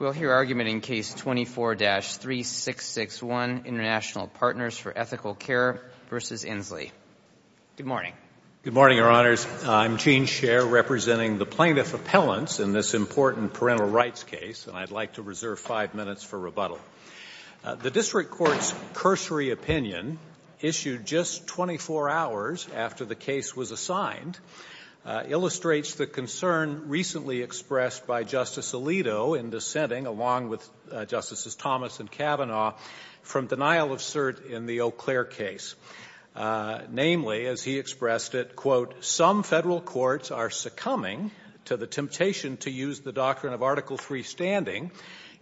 We'll hear argument in Case 24-3661, International Partners For Ethical Care v. Inslee. Good morning. Good morning, Your Honors. I'm Gene Scher, representing the Plaintiff Appellants in this important parental rights case, and I'd like to reserve five minutes for rebuttal. The District Court's cursory opinion, issued just 24 hours after the case was assigned, illustrates the concern recently expressed by Justice Alito in dissenting, along with Justices Thomas and Kavanaugh, from denial of cert in the Eau Claire case. Namely, as he expressed it, quote, some federal courts are succumbing to the temptation to use the doctrine of Article III standing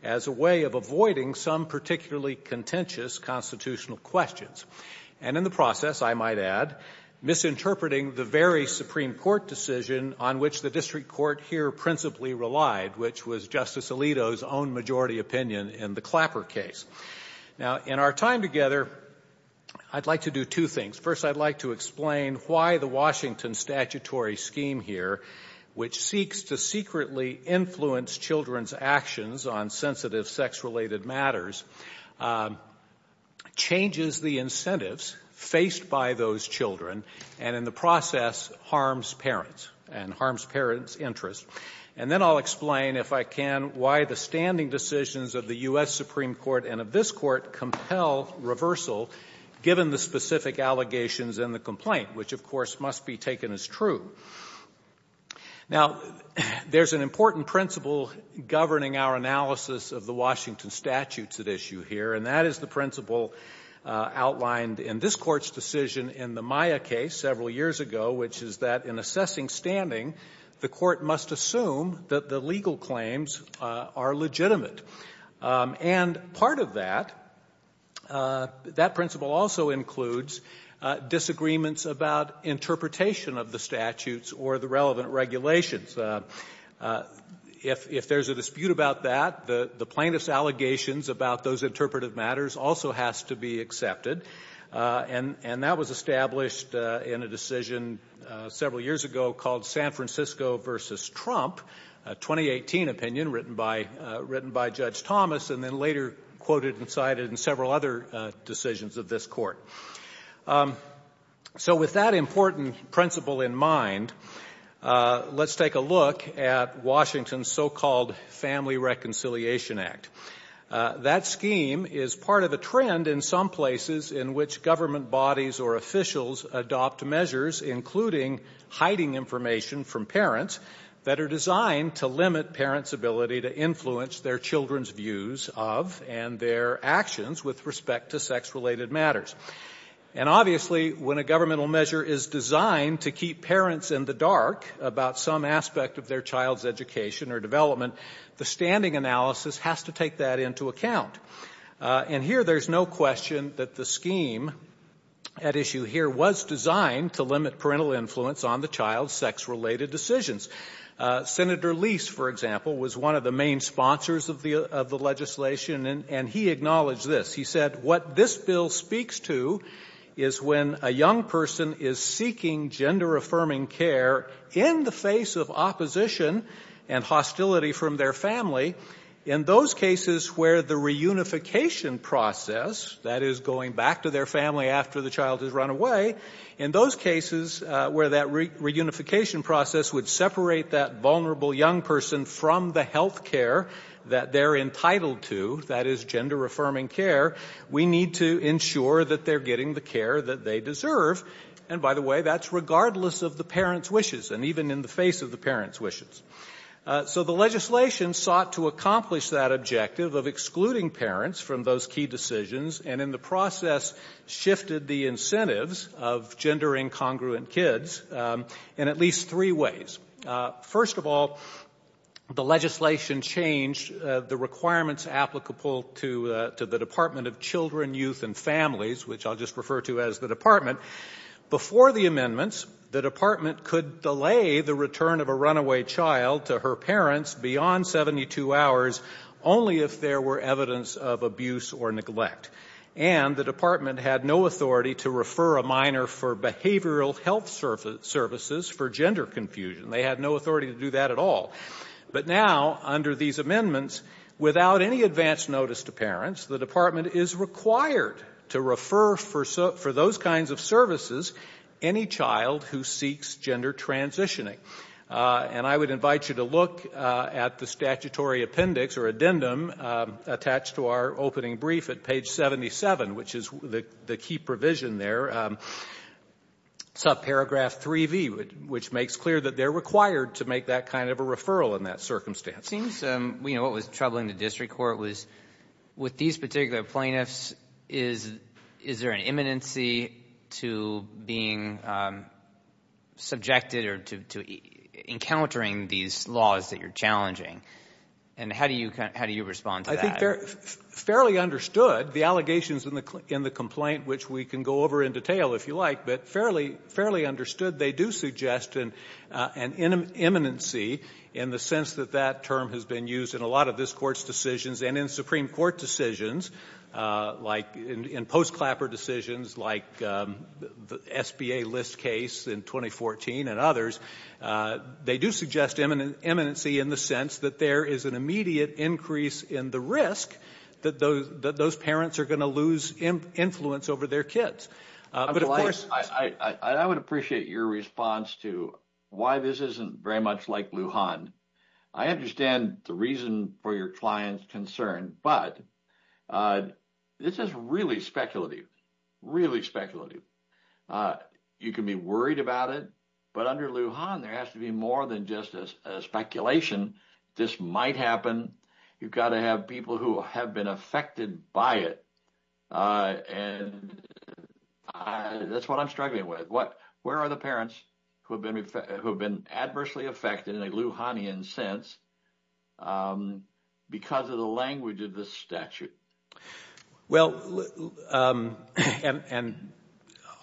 as a way of avoiding some particularly contentious constitutional questions. And in the process, I might add, misinterpreting the very Supreme Court decision on which the District Court here principally relied, which was Justice Alito's own majority opinion in the Clapper case. Now, in our time together, I'd like to do two things. First, I'd like to explain why the Washington statutory scheme here, which seeks to secretly influence children's actions on sensitive sex-related matters, changes the incentives faced by those children, and in the process harms parents and harms parents' interests. And then I'll explain, if I can, why the standing decisions of the U.S. Supreme Court and of this Court compel reversal given the specific allegations in the complaint, which, of course, must be taken as true. Now, there's an important principle governing our analysis of the Washington statutes at issue here, and that is the principle outlined in this Court's decision in the Maya case several years ago, which is that in assessing standing, the Court must assume that the legal claims are legitimate. And part of that, that principle also includes disagreements about interpretation of the statutes or the relevant regulations. If there's a dispute about that, the plaintiff's allegations about those interpretive matters also has to be accepted, and that was established in a decision several years ago called San Francisco v. Trump, a 2018 opinion written by Judge Thomas and then later quoted and cited in several other decisions of this Court. So with that important principle in mind, let's take a look at Washington's so-called Family Reconciliation Act. That scheme is part of a trend in some places in which government bodies or officials adopt measures, including hiding information from parents, that are designed to limit parents' ability to influence their children's views of and their actions with respect to sex-related matters. And obviously, when a governmental measure is designed to keep parents in the dark about some aspect of their child's education or development, the standing analysis has to take that into account. And here, there's no question that the scheme at issue here was designed to limit parental influence on the child's sex-related decisions. Senator Lease, for example, was one of the main sponsors of the legislation, and he acknowledged this. He said, what this bill speaks to is when a young person is seeking gender-affirming care in the face of opposition and hostility from their family, in those cases where the reunification process, that is, going back to their family after the child has run away, in those cases where that reunification process would separate that vulnerable young person from the health care that they're entitled to, that is, gender-affirming care, we need to ensure that they're getting the care that they deserve. And by the way, that's regardless of the parents' wishes and even in the face of the parents' wishes. So the legislation sought to accomplish that objective of excluding parents from those key decisions and in the process shifted the incentives of gender-incongruent kids in at least three ways. First of all, the legislation changed the requirements applicable to the Department of Children, Youth and Families, which I'll just refer to as the department. Before the amendments, the department could delay the return of a runaway child to her parents beyond 72 hours only if there were evidence of abuse or neglect. And the department had no authority to refer a minor for behavioral health services for gender confusion. They had no authority to do that at all. But now, under these amendments, without any advance notice to parents, the department is required to refer for those kinds of services any child who seeks gender transitioning. And I would invite you to look at the statutory appendix or addendum attached to our opening brief at page 77, which is the key provision there, subparagraph 3V, which makes clear that they're required to make that kind of a referral in that circumstance. It seems what was troubling the district court was with these particular plaintiffs, is there an imminency to being subjected or to encountering these laws that you're challenging? And how do you respond to that? I think they're fairly understood, the allegations in the complaint, which we can go over in detail if you like, but fairly understood. They do suggest an imminency in the sense that that term has been used in a lot of this court's decisions and in Supreme Court decisions, like in post-Clapper decisions, like the SBA list case in 2014 and others. They do suggest imminency in the sense that there is an immediate increase in the risk that those parents are going to lose influence over their kids. I would appreciate your response to why this isn't very much like Lujan. I understand the reason for your client's concern, but this is really speculative, really speculative. You can be worried about it, but under Lujan, there has to be more than just a speculation. This might happen. You've got to have people who have been affected by it, and that's what I'm struggling with. Where are the parents who have been adversely affected in a Lujanian sense because of the language of the statute? Well, and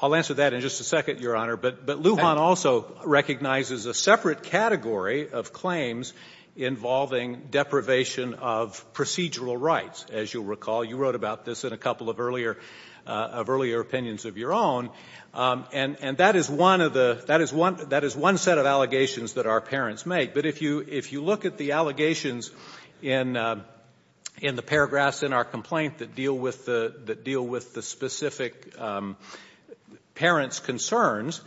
I'll answer that in just a second, Your Honor, but Lujan also recognizes a separate category of claims involving deprivation of procedural rights, as you'll recall. You wrote about this in a couple of earlier opinions of your own, and that is one set of allegations that our parents make. But if you look at the allegations in the paragraphs in our complaint that deal with the specific parents' concerns,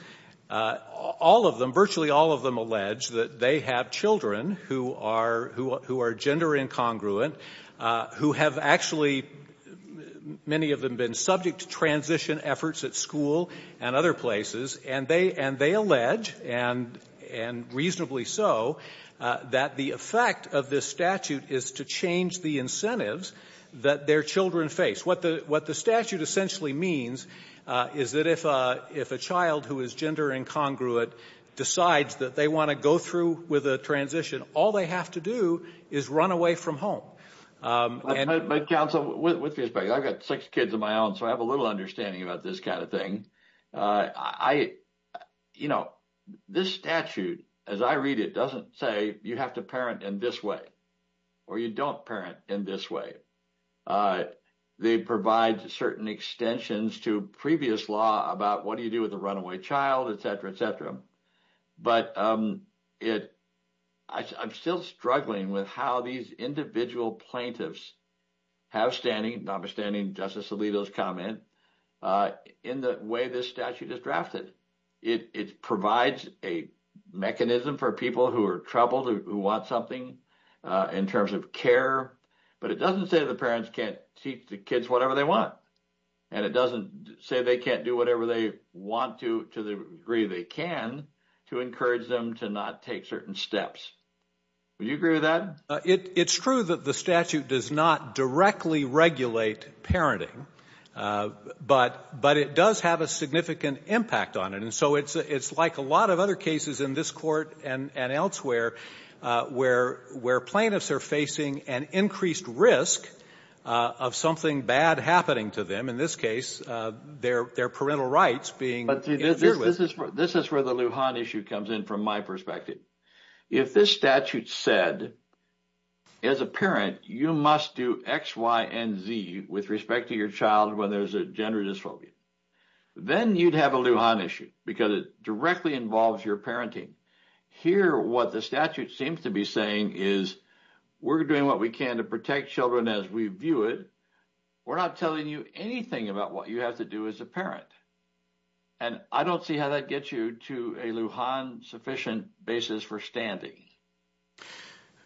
all of them, virtually all of them, allege that they have children who are gender incongruent, who have actually, many of them, been subject to transition efforts at school and other places, and they allege, and reasonably so, that the effect of this statute is to change the incentives that their children face. What the statute essentially means is that if a child who is gender incongruent decides that they want to go through with a transition, all they have to do is run away from home. But counsel, with respect, I've got six kids of my own, so I have a little understanding about this kind of thing. You know, this statute, as I read it, doesn't say you have to parent in this way or you don't parent in this way. They provide certain extensions to previous law about what do you do with a runaway child, et cetera, et cetera. But I'm still struggling with how these individual plaintiffs have standing, notwithstanding Justice Alito's comment, in the way this statute is drafted. It provides a mechanism for people who are troubled, who want something in terms of care, but it doesn't say the parents can't teach the kids whatever they want, and it doesn't say they can't do whatever they want to, to the degree they can, to encourage them to not take certain steps. Would you agree with that? It's true that the statute does not directly regulate parenting, but it does have a significant impact on it. And so it's like a lot of other cases in this court and elsewhere where plaintiffs are facing an increased risk of something bad happening to them, in this case their parental rights being interfered with. This is where the Lujan issue comes in from my perspective. If this statute said as a parent you must do X, Y, and Z with respect to your child when there's a gender dysphobia, then you'd have a Lujan issue because it directly involves your parenting. Here what the statute seems to be saying is we're doing what we can to protect children as we view it. We're not telling you anything about what you have to do as a parent. And I don't see how that gets you to a Lujan sufficient basis for standing.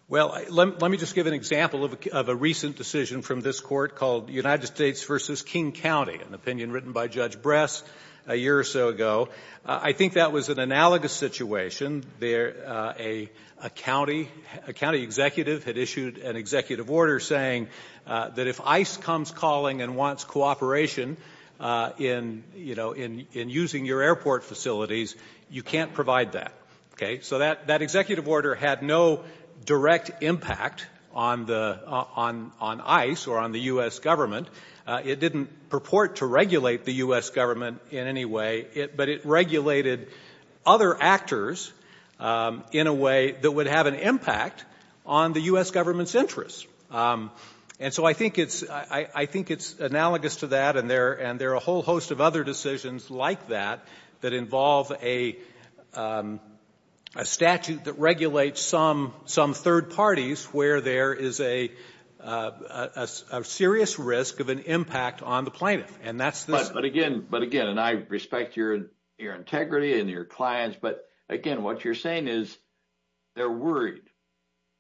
Well, let me just give an example of a recent decision from this court called United States v. King County, an opinion written by Judge Bress a year or so ago. I think that was an analogous situation. A county executive had issued an executive order saying that if ICE comes calling and wants cooperation in using your airport facilities, you can't provide that. So that executive order had no direct impact on ICE or on the U.S. government. It didn't purport to regulate the U.S. government in any way, but it regulated other actors in a way that would have an impact on the U.S. government's interests. And so I think it's analogous to that, and there are a whole host of other decisions like that that involve a statute that regulates some third parties where there is a serious risk of an impact on the plaintiff. But again, and I respect your integrity and your clients, but again, what you're saying is they're worried.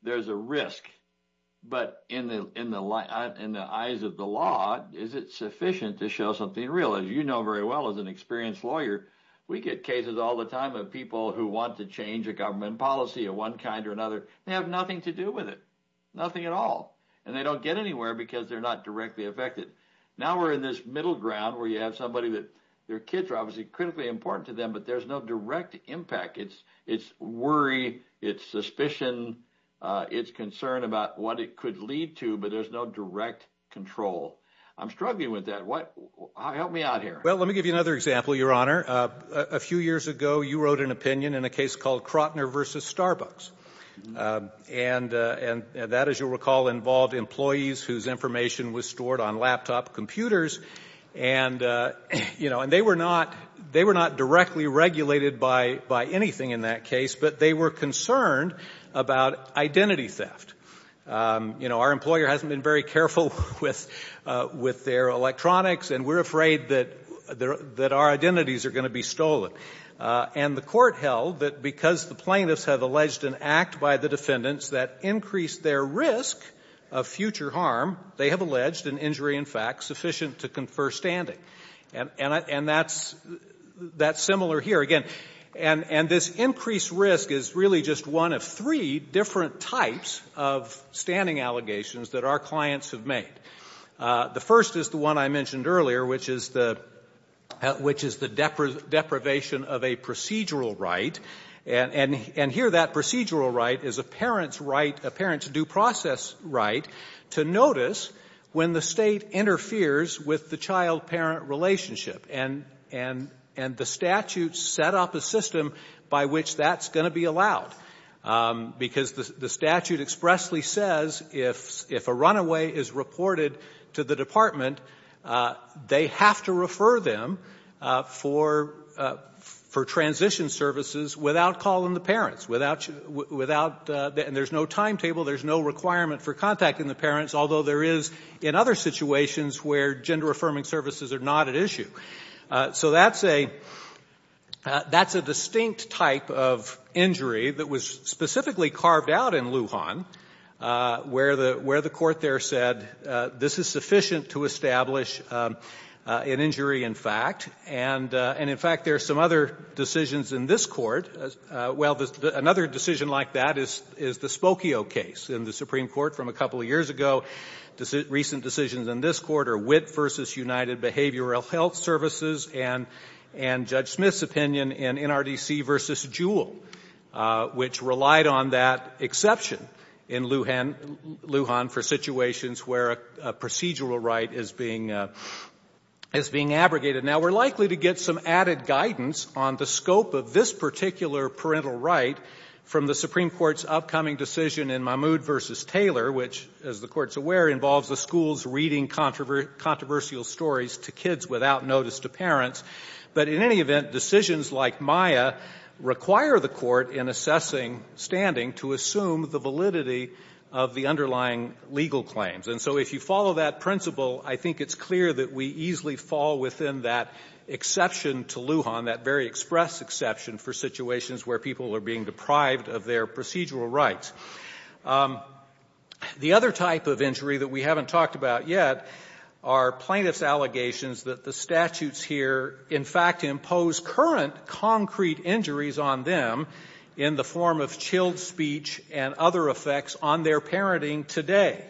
There's a risk. But in the eyes of the law, is it sufficient to show something real? As you know very well as an experienced lawyer, we get cases all the time of people who want to change a government policy of one kind or another. They have nothing to do with it, nothing at all. And they don't get anywhere because they're not directly affected. Now we're in this middle ground where you have somebody that their kids are obviously critically important to them, but there's no direct impact. It's worry. It's suspicion. It's concern about what it could lead to, but there's no direct control. I'm struggling with that. Help me out here. Well, let me give you another example, Your Honor. A few years ago, you wrote an opinion in a case called Krotner v. Starbucks, and that, as you'll recall, involved employees whose information was stored on laptop computers, and they were not directly regulated by anything in that case, but they were concerned about identity theft. Our employer hasn't been very careful with their electronics, and we're afraid that our identities are going to be stolen. And the court held that because the plaintiffs have alleged an act by the defendants that increased their risk of future harm, they have alleged an injury in fact sufficient to confer standing. And that's similar here. Again, and this increased risk is really just one of three different types of standing allegations that our clients have made. The first is the one I mentioned earlier, which is the deprivation of a procedural right, and here that procedural right is a parent's due process right to notice when the state interferes with the child-parent relationship. And the statute set up a system by which that's going to be allowed, because the statute expressly says if a runaway is reported to the department, they have to refer them for transition services without calling the parents, without, and there's no timetable, there's no requirement for contacting the parents, although there is in other situations where gender-affirming services are not at issue. So that's a distinct type of injury that was specifically carved out in Lujan, where the court there said this is sufficient to establish an injury in fact, and in fact there are some other decisions in this court. Well, another decision like that is the Spokio case in the Supreme Court from a couple of years ago. Recent decisions in this court are Witt v. United Behavioral Health Services and Judge Smith's opinion in NRDC v. Jewell, which relied on that exception in Lujan for situations where a procedural right is being abrogated. Now, we're likely to get some added guidance on the scope of this particular parental right from the Supreme Court's upcoming decision in Mahmoud v. Taylor, which, as the Court's aware, involves the schools reading controversial stories to kids without notice to parents. But in any event, decisions like Maya require the court in assessing standing to assume the validity of the underlying legal claims. And so if you follow that principle, I think it's clear that we easily fall within that exception to Lujan, on that very express exception for situations where people are being deprived of their procedural rights. The other type of injury that we haven't talked about yet are plaintiff's allegations that the statutes here in fact impose current concrete injuries on them in the form of chilled speech and other effects on their parenting today,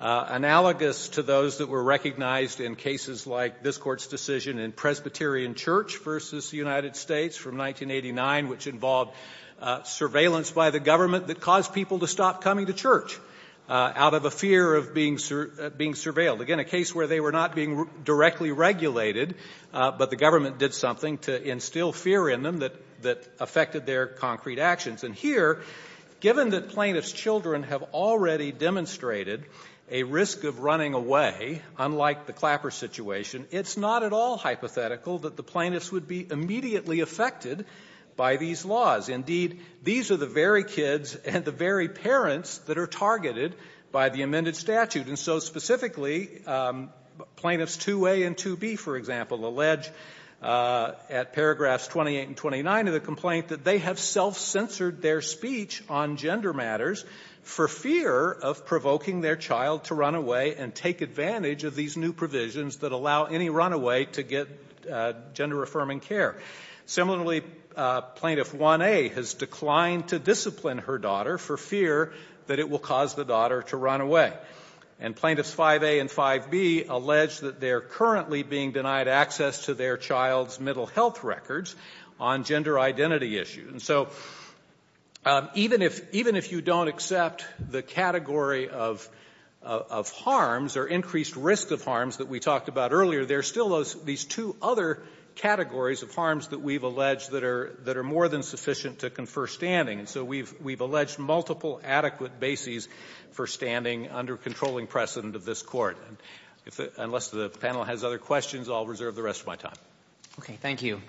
analogous to those that were recognized in cases like this Court's decision in Presbyterian Church v. United States from 1989, which involved surveillance by the government that caused people to stop coming to church out of a fear of being surveilled. Again, a case where they were not being directly regulated, but the government did something to instill fear in them that affected their concrete actions. And here, given that plaintiff's children have already demonstrated a risk of running away, unlike the Clapper situation, it's not at all hypothetical that the plaintiffs would be immediately affected by these laws. Indeed, these are the very kids and the very parents that are targeted by the amended statute. And so specifically, plaintiffs 2A and 2B, for example, allege at paragraphs 28 and 29 of the complaint that they have self-censored their speech on gender matters for fear of provoking their child to run away and take advantage of these new provisions that allow any runaway to get gender-affirming care. Similarly, plaintiff 1A has declined to discipline her daughter for fear that it will cause the daughter to run away. And plaintiffs 5A and 5B allege that they are currently being denied access to their child's mental health records on gender identity issues. And so even if you don't accept the category of harms or increased risk of harms that we talked about earlier, there are still these two other categories of harms that we've alleged that are more than sufficient to confer standing. And so we've alleged multiple adequate bases for standing under controlling precedent of this Court. Unless the panel has other questions, I'll reserve the rest of my time. Okay, thank you.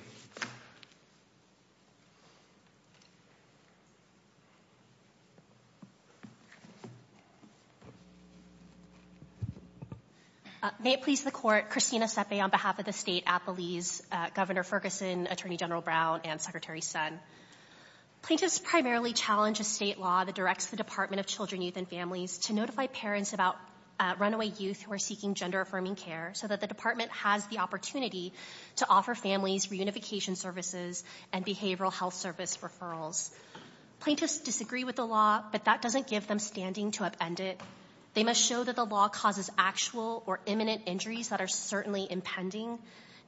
May it please the Court, Christina Sepe on behalf of the State, Appalese, Governor Ferguson, Attorney General Brown, and Secretary Sun. Plaintiffs primarily challenge a state law that directs the Department of Children, Youth, and Families to notify parents about runaway youth who are seeking gender-affirming care so that the Department has the opportunity to offer families reunification services and behavioral health service referrals. Plaintiffs disagree with the law, but that doesn't give them standing to upend it. They must show that the law causes actual or imminent injuries that are certainly impending,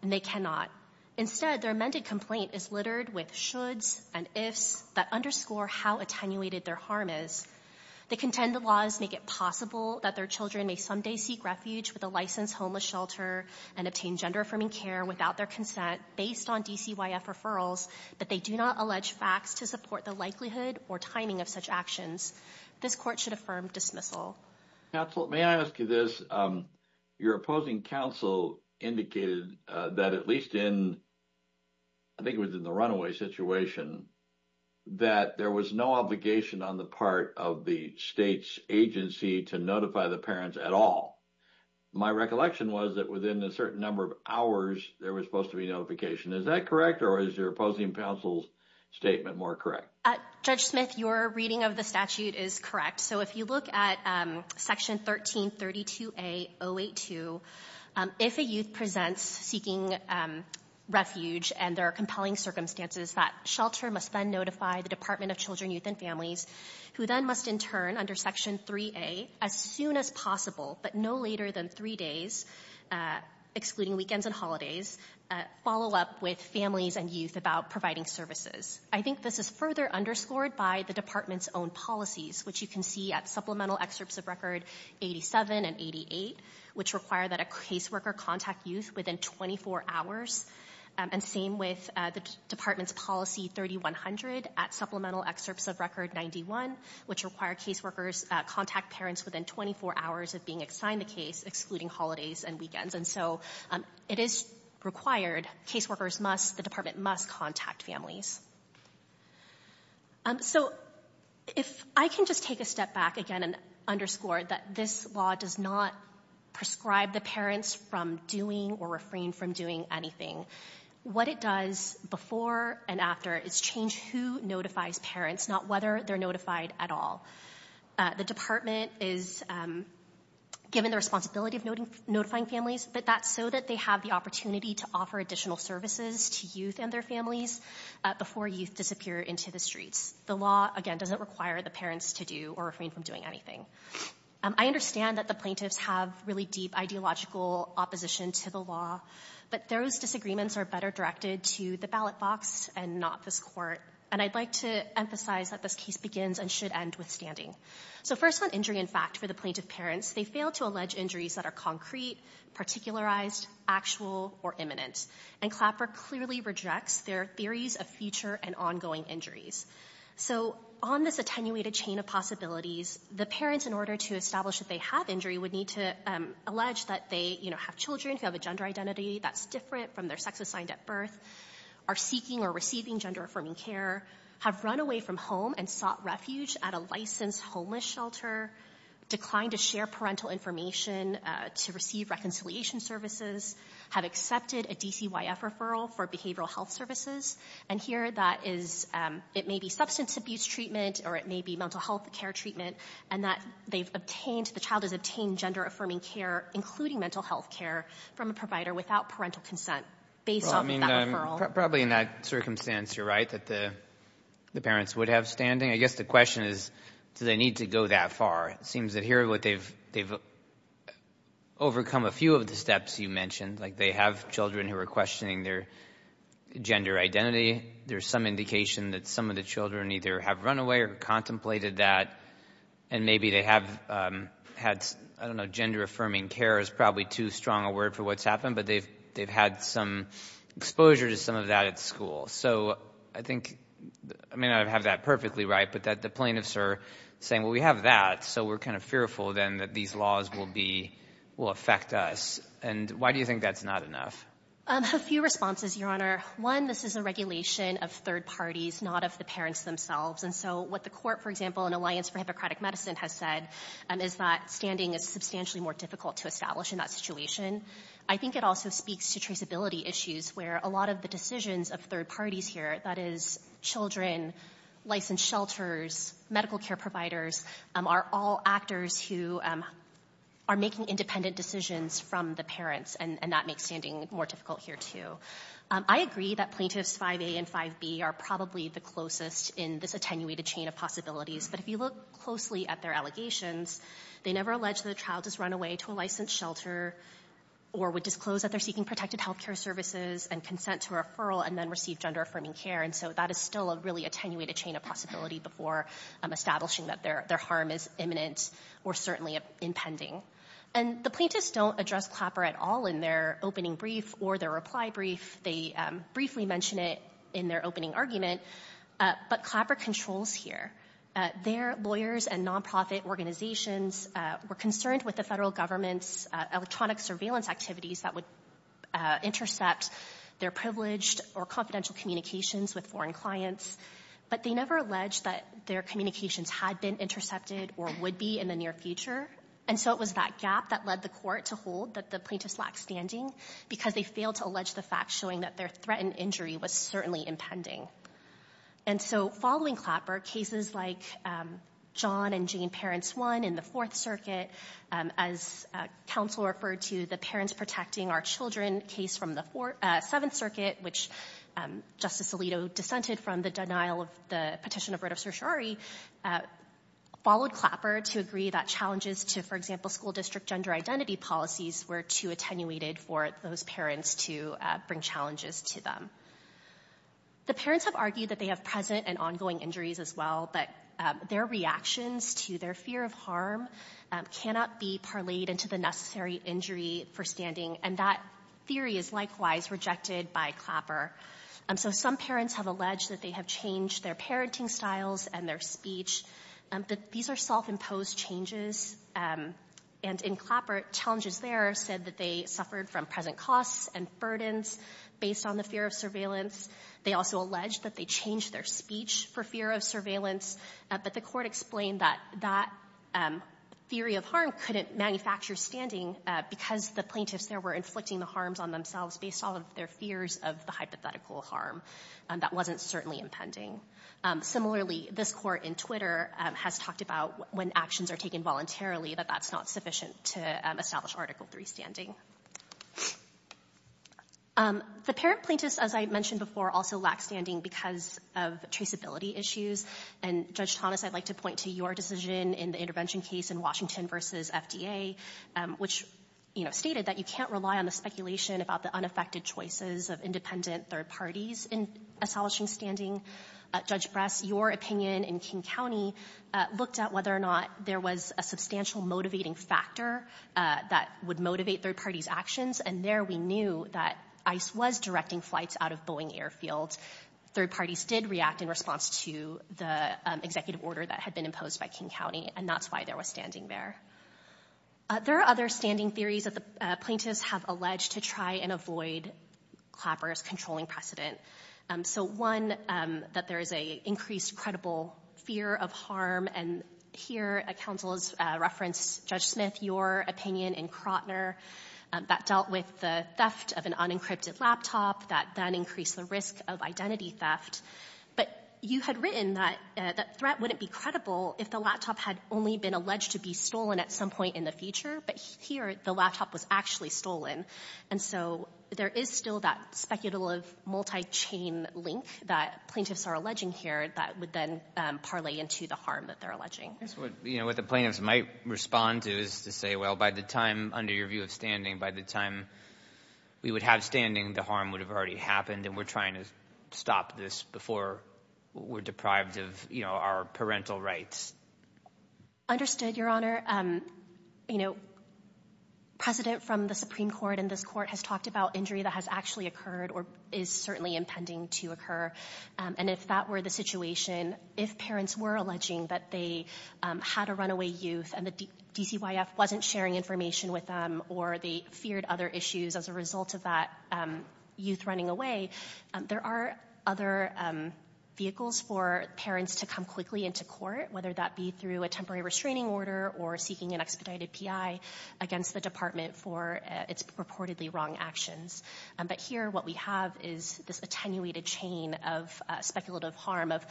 and they cannot. Instead, their amended complaint is littered with shoulds and ifs that underscore how attenuated their harm is. They contend the laws make it possible that their children may someday seek refuge with a licensed homeless shelter and obtain gender-affirming care without their consent based on DCYF referrals, but they do not allege facts to support the likelihood or timing of such actions. This Court should affirm dismissal. Counsel, may I ask you this? Your opposing counsel indicated that at least in, I think it was in the runaway situation, that there was no obligation on the part of the state's agency to notify the parents at all. My recollection was that within a certain number of hours, there was supposed to be notification. Is that correct, or is your opposing counsel's statement more correct? Judge Smith, your reading of the statute is correct. So if you look at Section 1332A.082, if a youth presents seeking refuge and there are compelling circumstances that shelter must then notify the Department of Children, Youth, and Families, who then must in turn under Section 3A, as soon as possible, but no later than three days, excluding weekends and holidays, follow up with families and youth about providing services. I think this is further underscored by the Department's own policies, which you can see at supplemental excerpts of Record 87 and 88, which require that a caseworker contact youth within 24 hours, and same with the Department's policy 3100 at supplemental excerpts of Record 91, which require caseworkers contact parents within 24 hours of being assigned the case, excluding holidays and weekends. And so it is required, caseworkers must, the Department must contact families. So if I can just take a step back again and underscore that this law does not prescribe the parents from doing or refrain from doing anything. What it does before and after is change who notifies parents, not whether they're notified at all. The Department is given the responsibility of notifying families, but that's so that they have the opportunity to offer additional services to youth and their families before youth disappear into the streets. The law, again, doesn't require the parents to do or refrain from doing anything. I understand that the plaintiffs have really deep ideological opposition to the law, but those disagreements are better directed to the ballot box and not this court. And I'd like to emphasize that this case begins and should end with standing. So first on injury and fact for the plaintiff parents, they fail to allege injuries that are concrete, particularized, actual, or imminent. And Clapper clearly rejects their theories of future and ongoing injuries. So on this attenuated chain of possibilities, the parents, in order to establish that they have injury, would need to allege that they have children who have a gender identity that's different from their sex assigned at birth, are seeking or receiving gender-affirming care, have run away from home and sought refuge at a licensed homeless shelter, declined to share parental information to receive reconciliation services, have accepted a DCYF referral for behavioral health services. And here that is, it may be substance abuse treatment or it may be mental health care treatment, and that they've obtained, the child has obtained gender-affirming care, including mental health care, from a provider without parental consent based on that referral. Probably in that circumstance, you're right, that the parents would have standing. I guess the question is, do they need to go that far? It seems that here they've overcome a few of the steps you mentioned, like they have children who are questioning their gender identity. There's some indication that some of the children either have run away or contemplated that, and maybe they have had, I don't know, gender-affirming care is probably too strong a word for what's happened, but they've had some exposure to some of that at school. So I think, I may not have that perfectly right, but that the plaintiffs are saying, well, we have that, so we're kind of fearful then that these laws will affect us. And why do you think that's not enough? A few responses, Your Honor. One, this is a regulation of third parties, not of the parents themselves. And so what the court, for example, in Alliance for Hypocratic Medicine has said, is that standing is substantially more difficult to establish in that situation. I think it also speaks to traceability issues where a lot of the decisions of third parties here, that is children, licensed shelters, medical care providers, are all actors who are making independent decisions from the parents, and that makes standing more difficult here, too. I agree that Plaintiffs 5A and 5B are probably the closest in this attenuated chain of possibilities, but if you look closely at their allegations, they never allege that a child has run away to a licensed shelter or would disclose that they're seeking protected health care services and consent to a referral and then receive gender-affirming care, and so that is still a really attenuated chain of possibility before establishing that their harm is imminent or certainly impending. And the plaintiffs don't address Clapper at all in their opening brief or their reply brief. They briefly mention it in their opening argument, but Clapper controls here. Their lawyers and nonprofit organizations were concerned with the federal government's electronic surveillance activities that would intercept their privileged or confidential communications with foreign clients, but they never alleged that their communications had been intercepted or would be in the near future, and so it was that gap that led the court to hold that the plaintiffs lacked standing because they failed to allege the facts showing that their threat and injury was certainly impending. And so following Clapper, cases like John and Jane Parents 1 in the Fourth Circuit, as counsel referred to the Parents Protecting Our Children case from the Seventh Circuit, which Justice Alito dissented from the denial of the petition of writ of certiorari, followed Clapper to agree that challenges to, for example, school district gender identity policies were too attenuated for those parents to bring challenges to them. The parents have argued that they have present and ongoing injuries as well, but their reactions to their fear of harm cannot be parlayed into the necessary injury for standing, and that theory is likewise rejected by Clapper. So some parents have alleged that they have changed their parenting styles and their speech, but these are self-imposed changes, and in Clapper, challenges there said that they suffered from present costs and burdens based on the fear of surveillance. They also alleged that they changed their speech for fear of surveillance, but the court explained that that theory of harm couldn't manufacture standing because the plaintiffs there were inflicting the harms on themselves based on their fears of the hypothetical harm. That wasn't certainly impending. Similarly, this court in Twitter has talked about when actions are taken voluntarily that that's not sufficient to establish Article III standing. The parent plaintiffs, as I mentioned before, also lack standing because of traceability issues, and Judge Thomas, I'd like to point to your decision in the intervention case in Washington v. FDA, which stated that you can't rely on the speculation about the unaffected choices of independent third parties in establishing standing. Judge Bress, your opinion in King County looked at whether or not there was a substantial motivating factor that would motivate third parties' actions, and there we knew that ICE was directing flights out of Boeing Airfield. Third parties did react in response to the executive order that had been imposed by King County, and that's why there was standing there. There are other standing theories that the plaintiffs have alleged to try and avoid Clapper's controlling precedent. So, one, that there is an increased credible fear of harm, and here a counsel has referenced, Judge Smith, your opinion in Krotner, that dealt with the theft of an unencrypted laptop that then increased the risk of identity theft. But you had written that that threat wouldn't be credible if the laptop had only been alleged to be stolen at some point in the future, but here the laptop was actually stolen. And so there is still that speculative multi-chain link that plaintiffs are alleging here that would then parlay into the harm that they're alleging. What the plaintiffs might respond to is to say, well, by the time, under your view of standing, by the time we would have standing, the harm would have already happened and we're trying to stop this before we're deprived of our parental rights. Understood, Your Honor. You know, precedent from the Supreme Court in this court has talked about injury that has actually occurred or is certainly impending to occur, and if that were the situation, if parents were alleging that they had a runaway youth and the DCYF wasn't sharing information with them or they feared other issues as a result of that youth running away, there are other vehicles for parents to come quickly into court, whether that be through a temporary restraining order or seeking an expedited PI against the department for its purportedly wrong actions. But here what we have is this attenuated chain of speculative harm of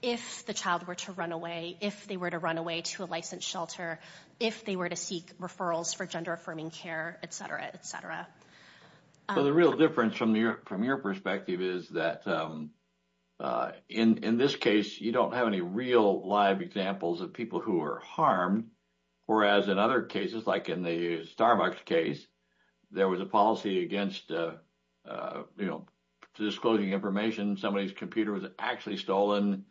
if the child were to run away, if they were to run away to a licensed shelter, if they were to seek referrals for gender-affirming care, etc., etc. So the real difference from your perspective is that in this case, you don't have any real live examples of people who are harmed, whereas in other cases, like in the Starbucks case, there was a policy against disclosing information. Somebody's computer was actually stolen.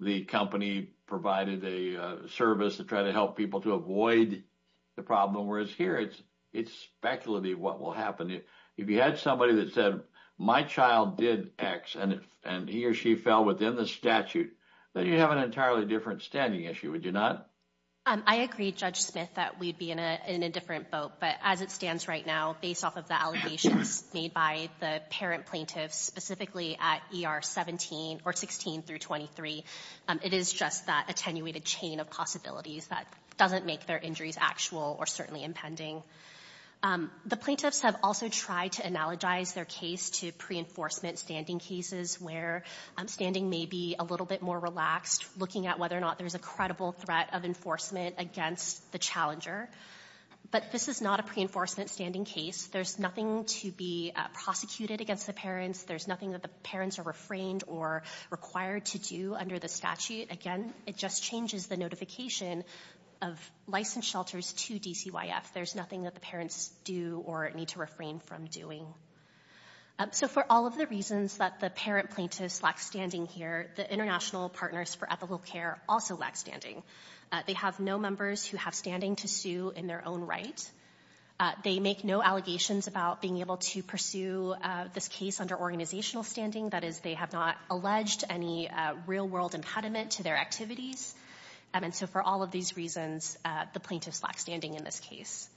The company provided a service to try to help people to avoid the problem, whereas here it's speculative what will happen. If you had somebody that said, my child did X and he or she fell within the statute, then you have an entirely different standing issue, would you not? I agree, Judge Smith, that we'd be in a different boat. But as it stands right now, based off of the allegations made by the parent plaintiffs, specifically at ER 17 or 16 through 23, it is just that attenuated chain of possibilities that doesn't make their injuries actual or certainly impending. The plaintiffs have also tried to analogize their case to pre-enforcement standing cases where standing may be a little bit more relaxed, looking at whether or not there's a credible threat of enforcement against the challenger. But this is not a pre-enforcement standing case. There's nothing to be prosecuted against the parents. There's nothing that the parents are refrained or required to do under the statute. Again, it just changes the notification of licensed shelters to DCYF. There's nothing that the parents do or need to refrain from doing. So for all of the reasons that the parent plaintiffs lack standing here, the International Partners for Ethical Care also lack standing. They have no members who have standing to sue in their own right. They make no allegations about being able to pursue this case under organizational standing. That is, they have not alleged any real-world impediment to their activities. And so for all of these reasons, the plaintiffs lack standing in this case.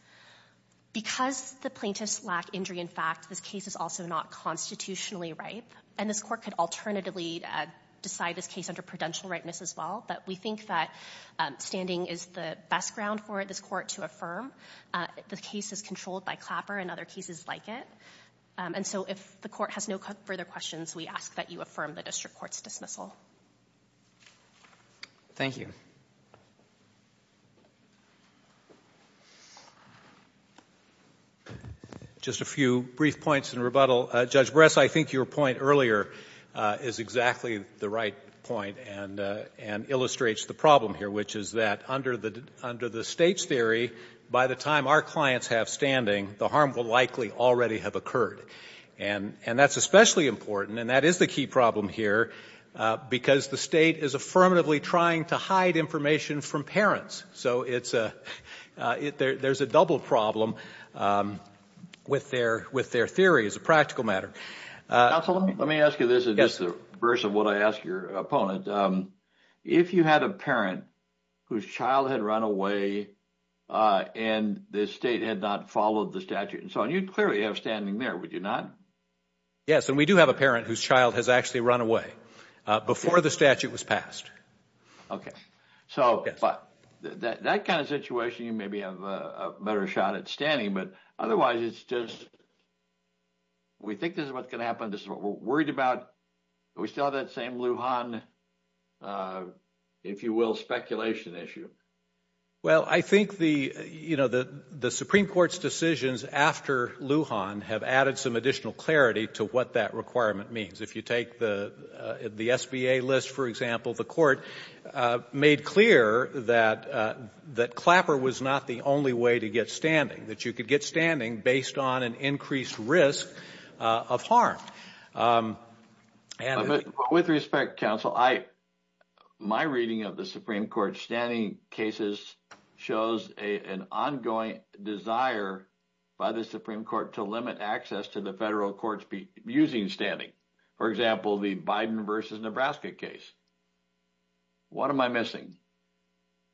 Because the plaintiffs lack injury in fact, this case is also not constitutionally ripe. And this court could alternatively decide this case under prudential rightness as well. But we think that standing is the best ground for this court to affirm. The case is controlled by Clapper and other cases like it. And so if the court has no further questions, we ask that you affirm the district court's dismissal. Thank you. Just a few brief points in rebuttal. Judge Bress, I think your point earlier is exactly the right point and illustrates the problem here, which is that under the State's theory, by the time our clients have standing, the harm will likely already have occurred. And that's especially important, and that is the key problem here, because the State is affirmatively trying to hide information from parents. So there's a double problem with their theory as a practical matter. Counsel, let me ask you this in reverse of what I asked your opponent. If you had a parent whose child had run away and the State had not followed the statute and so on, you'd clearly have standing there, would you not? Yes, and we do have a parent whose child has actually run away before the statute was passed. OK, so that kind of situation, you maybe have a better shot at standing. But otherwise, it's just we think this is what's going to happen. This is what we're worried about. We still have that same Lujan, if you will, speculation issue. Well, I think the Supreme Court's decisions after Lujan have added some additional clarity to what that requirement means. If you take the SBA list, for example, the court made clear that Clapper was not the only way to get standing, that you could get standing based on an increased risk of harm. But with respect, Counsel, my reading of the Supreme Court's standing cases shows an ongoing desire by the Supreme Court to limit access to the federal courts using standing. For example, the Biden versus Nebraska case. What am I missing?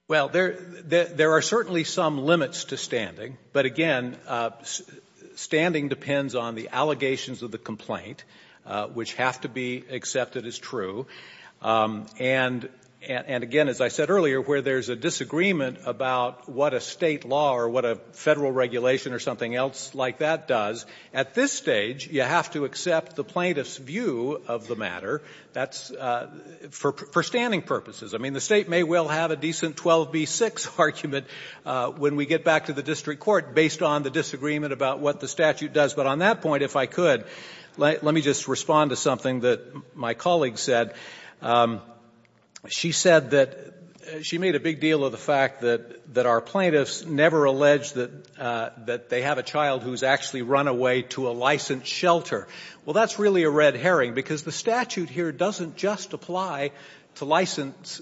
Well, there are certainly some limits to standing. But again, standing depends on the allegations of the complaint, which have to be accepted as true. And again, as I said earlier, where there's a disagreement about what a State law or what a Federal regulation or something else like that does, at this stage you have to accept the plaintiff's view of the matter. That's for standing purposes. I mean, the State may well have a decent 12b-6 argument when we get back to the district court based on the disagreement about what the statute does. But on that point, if I could, let me just respond to something that my colleague said. She said that she made a big deal of the fact that our plaintiffs never allege that they have a child who's actually run away to a licensed shelter. Well, that's really a red herring because the statute here doesn't just apply to licensed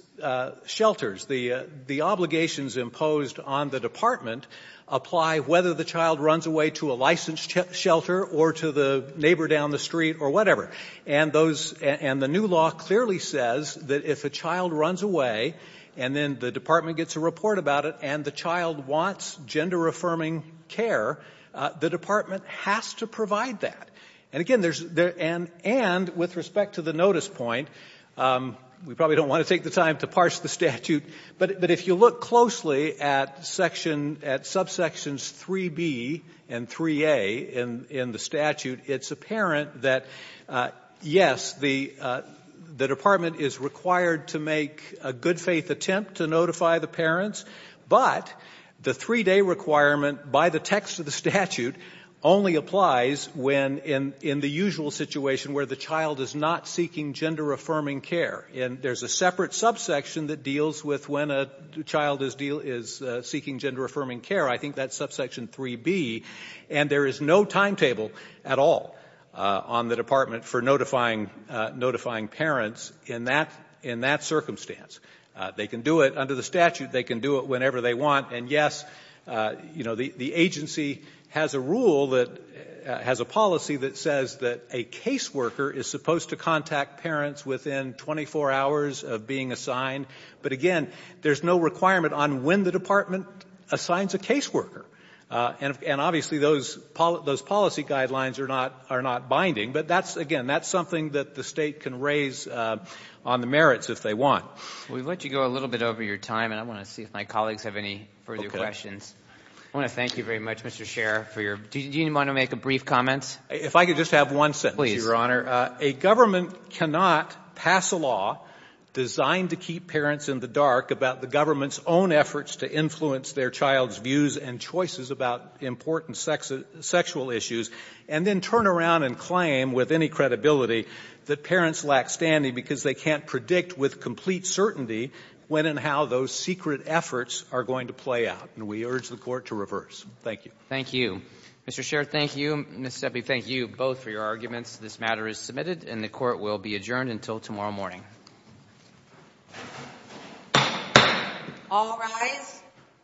shelters. The obligations imposed on the department apply whether the child runs away to a licensed shelter or to the neighbor down the street or whatever. And the new law clearly says that if a child runs away and then the department gets a report about it and the child wants gender-affirming care, the department has to provide that. And, again, and with respect to the notice point, we probably don't want to take the time to parse the statute, but if you look closely at subsections 3b and 3a in the statute, it's apparent that, yes, the department is required to make a good-faith attempt to notify the parents, but the three-day requirement by the text of the statute only applies when in the usual situation where the child is not seeking gender-affirming care. And there's a separate subsection that deals with when a child is seeking gender-affirming care. I think that's subsection 3b. And there is no timetable at all on the department for notifying parents in that circumstance. They can do it under the statute. They can do it whenever they want. And, yes, you know, the agency has a rule that has a policy that says that a caseworker is supposed to contact parents within 24 hours of being assigned. But, again, there's no requirement on when the department assigns a caseworker. And, obviously, those policy guidelines are not binding. But, again, that's something that the state can raise on the merits if they want. We've let you go a little bit over your time, and I want to see if my colleagues have any further questions. I want to thank you very much, Mr. Scherer. Do you want to make a brief comment? If I could just have one sentence, Your Honor. A government cannot pass a law designed to keep parents in the dark about the government's own efforts to influence their child's views and choices about important sexual issues, and then turn around and claim, with any credibility, that parents lack standing because they can't predict with complete certainty when and how those secret efforts are going to play out. And we urge the Court to reverse. Thank you. Thank you. Mr. Scherer, thank you. Ms. Sebi, thank you both for your arguments. This matter is submitted, and the Court will be adjourned until tomorrow morning. All rise.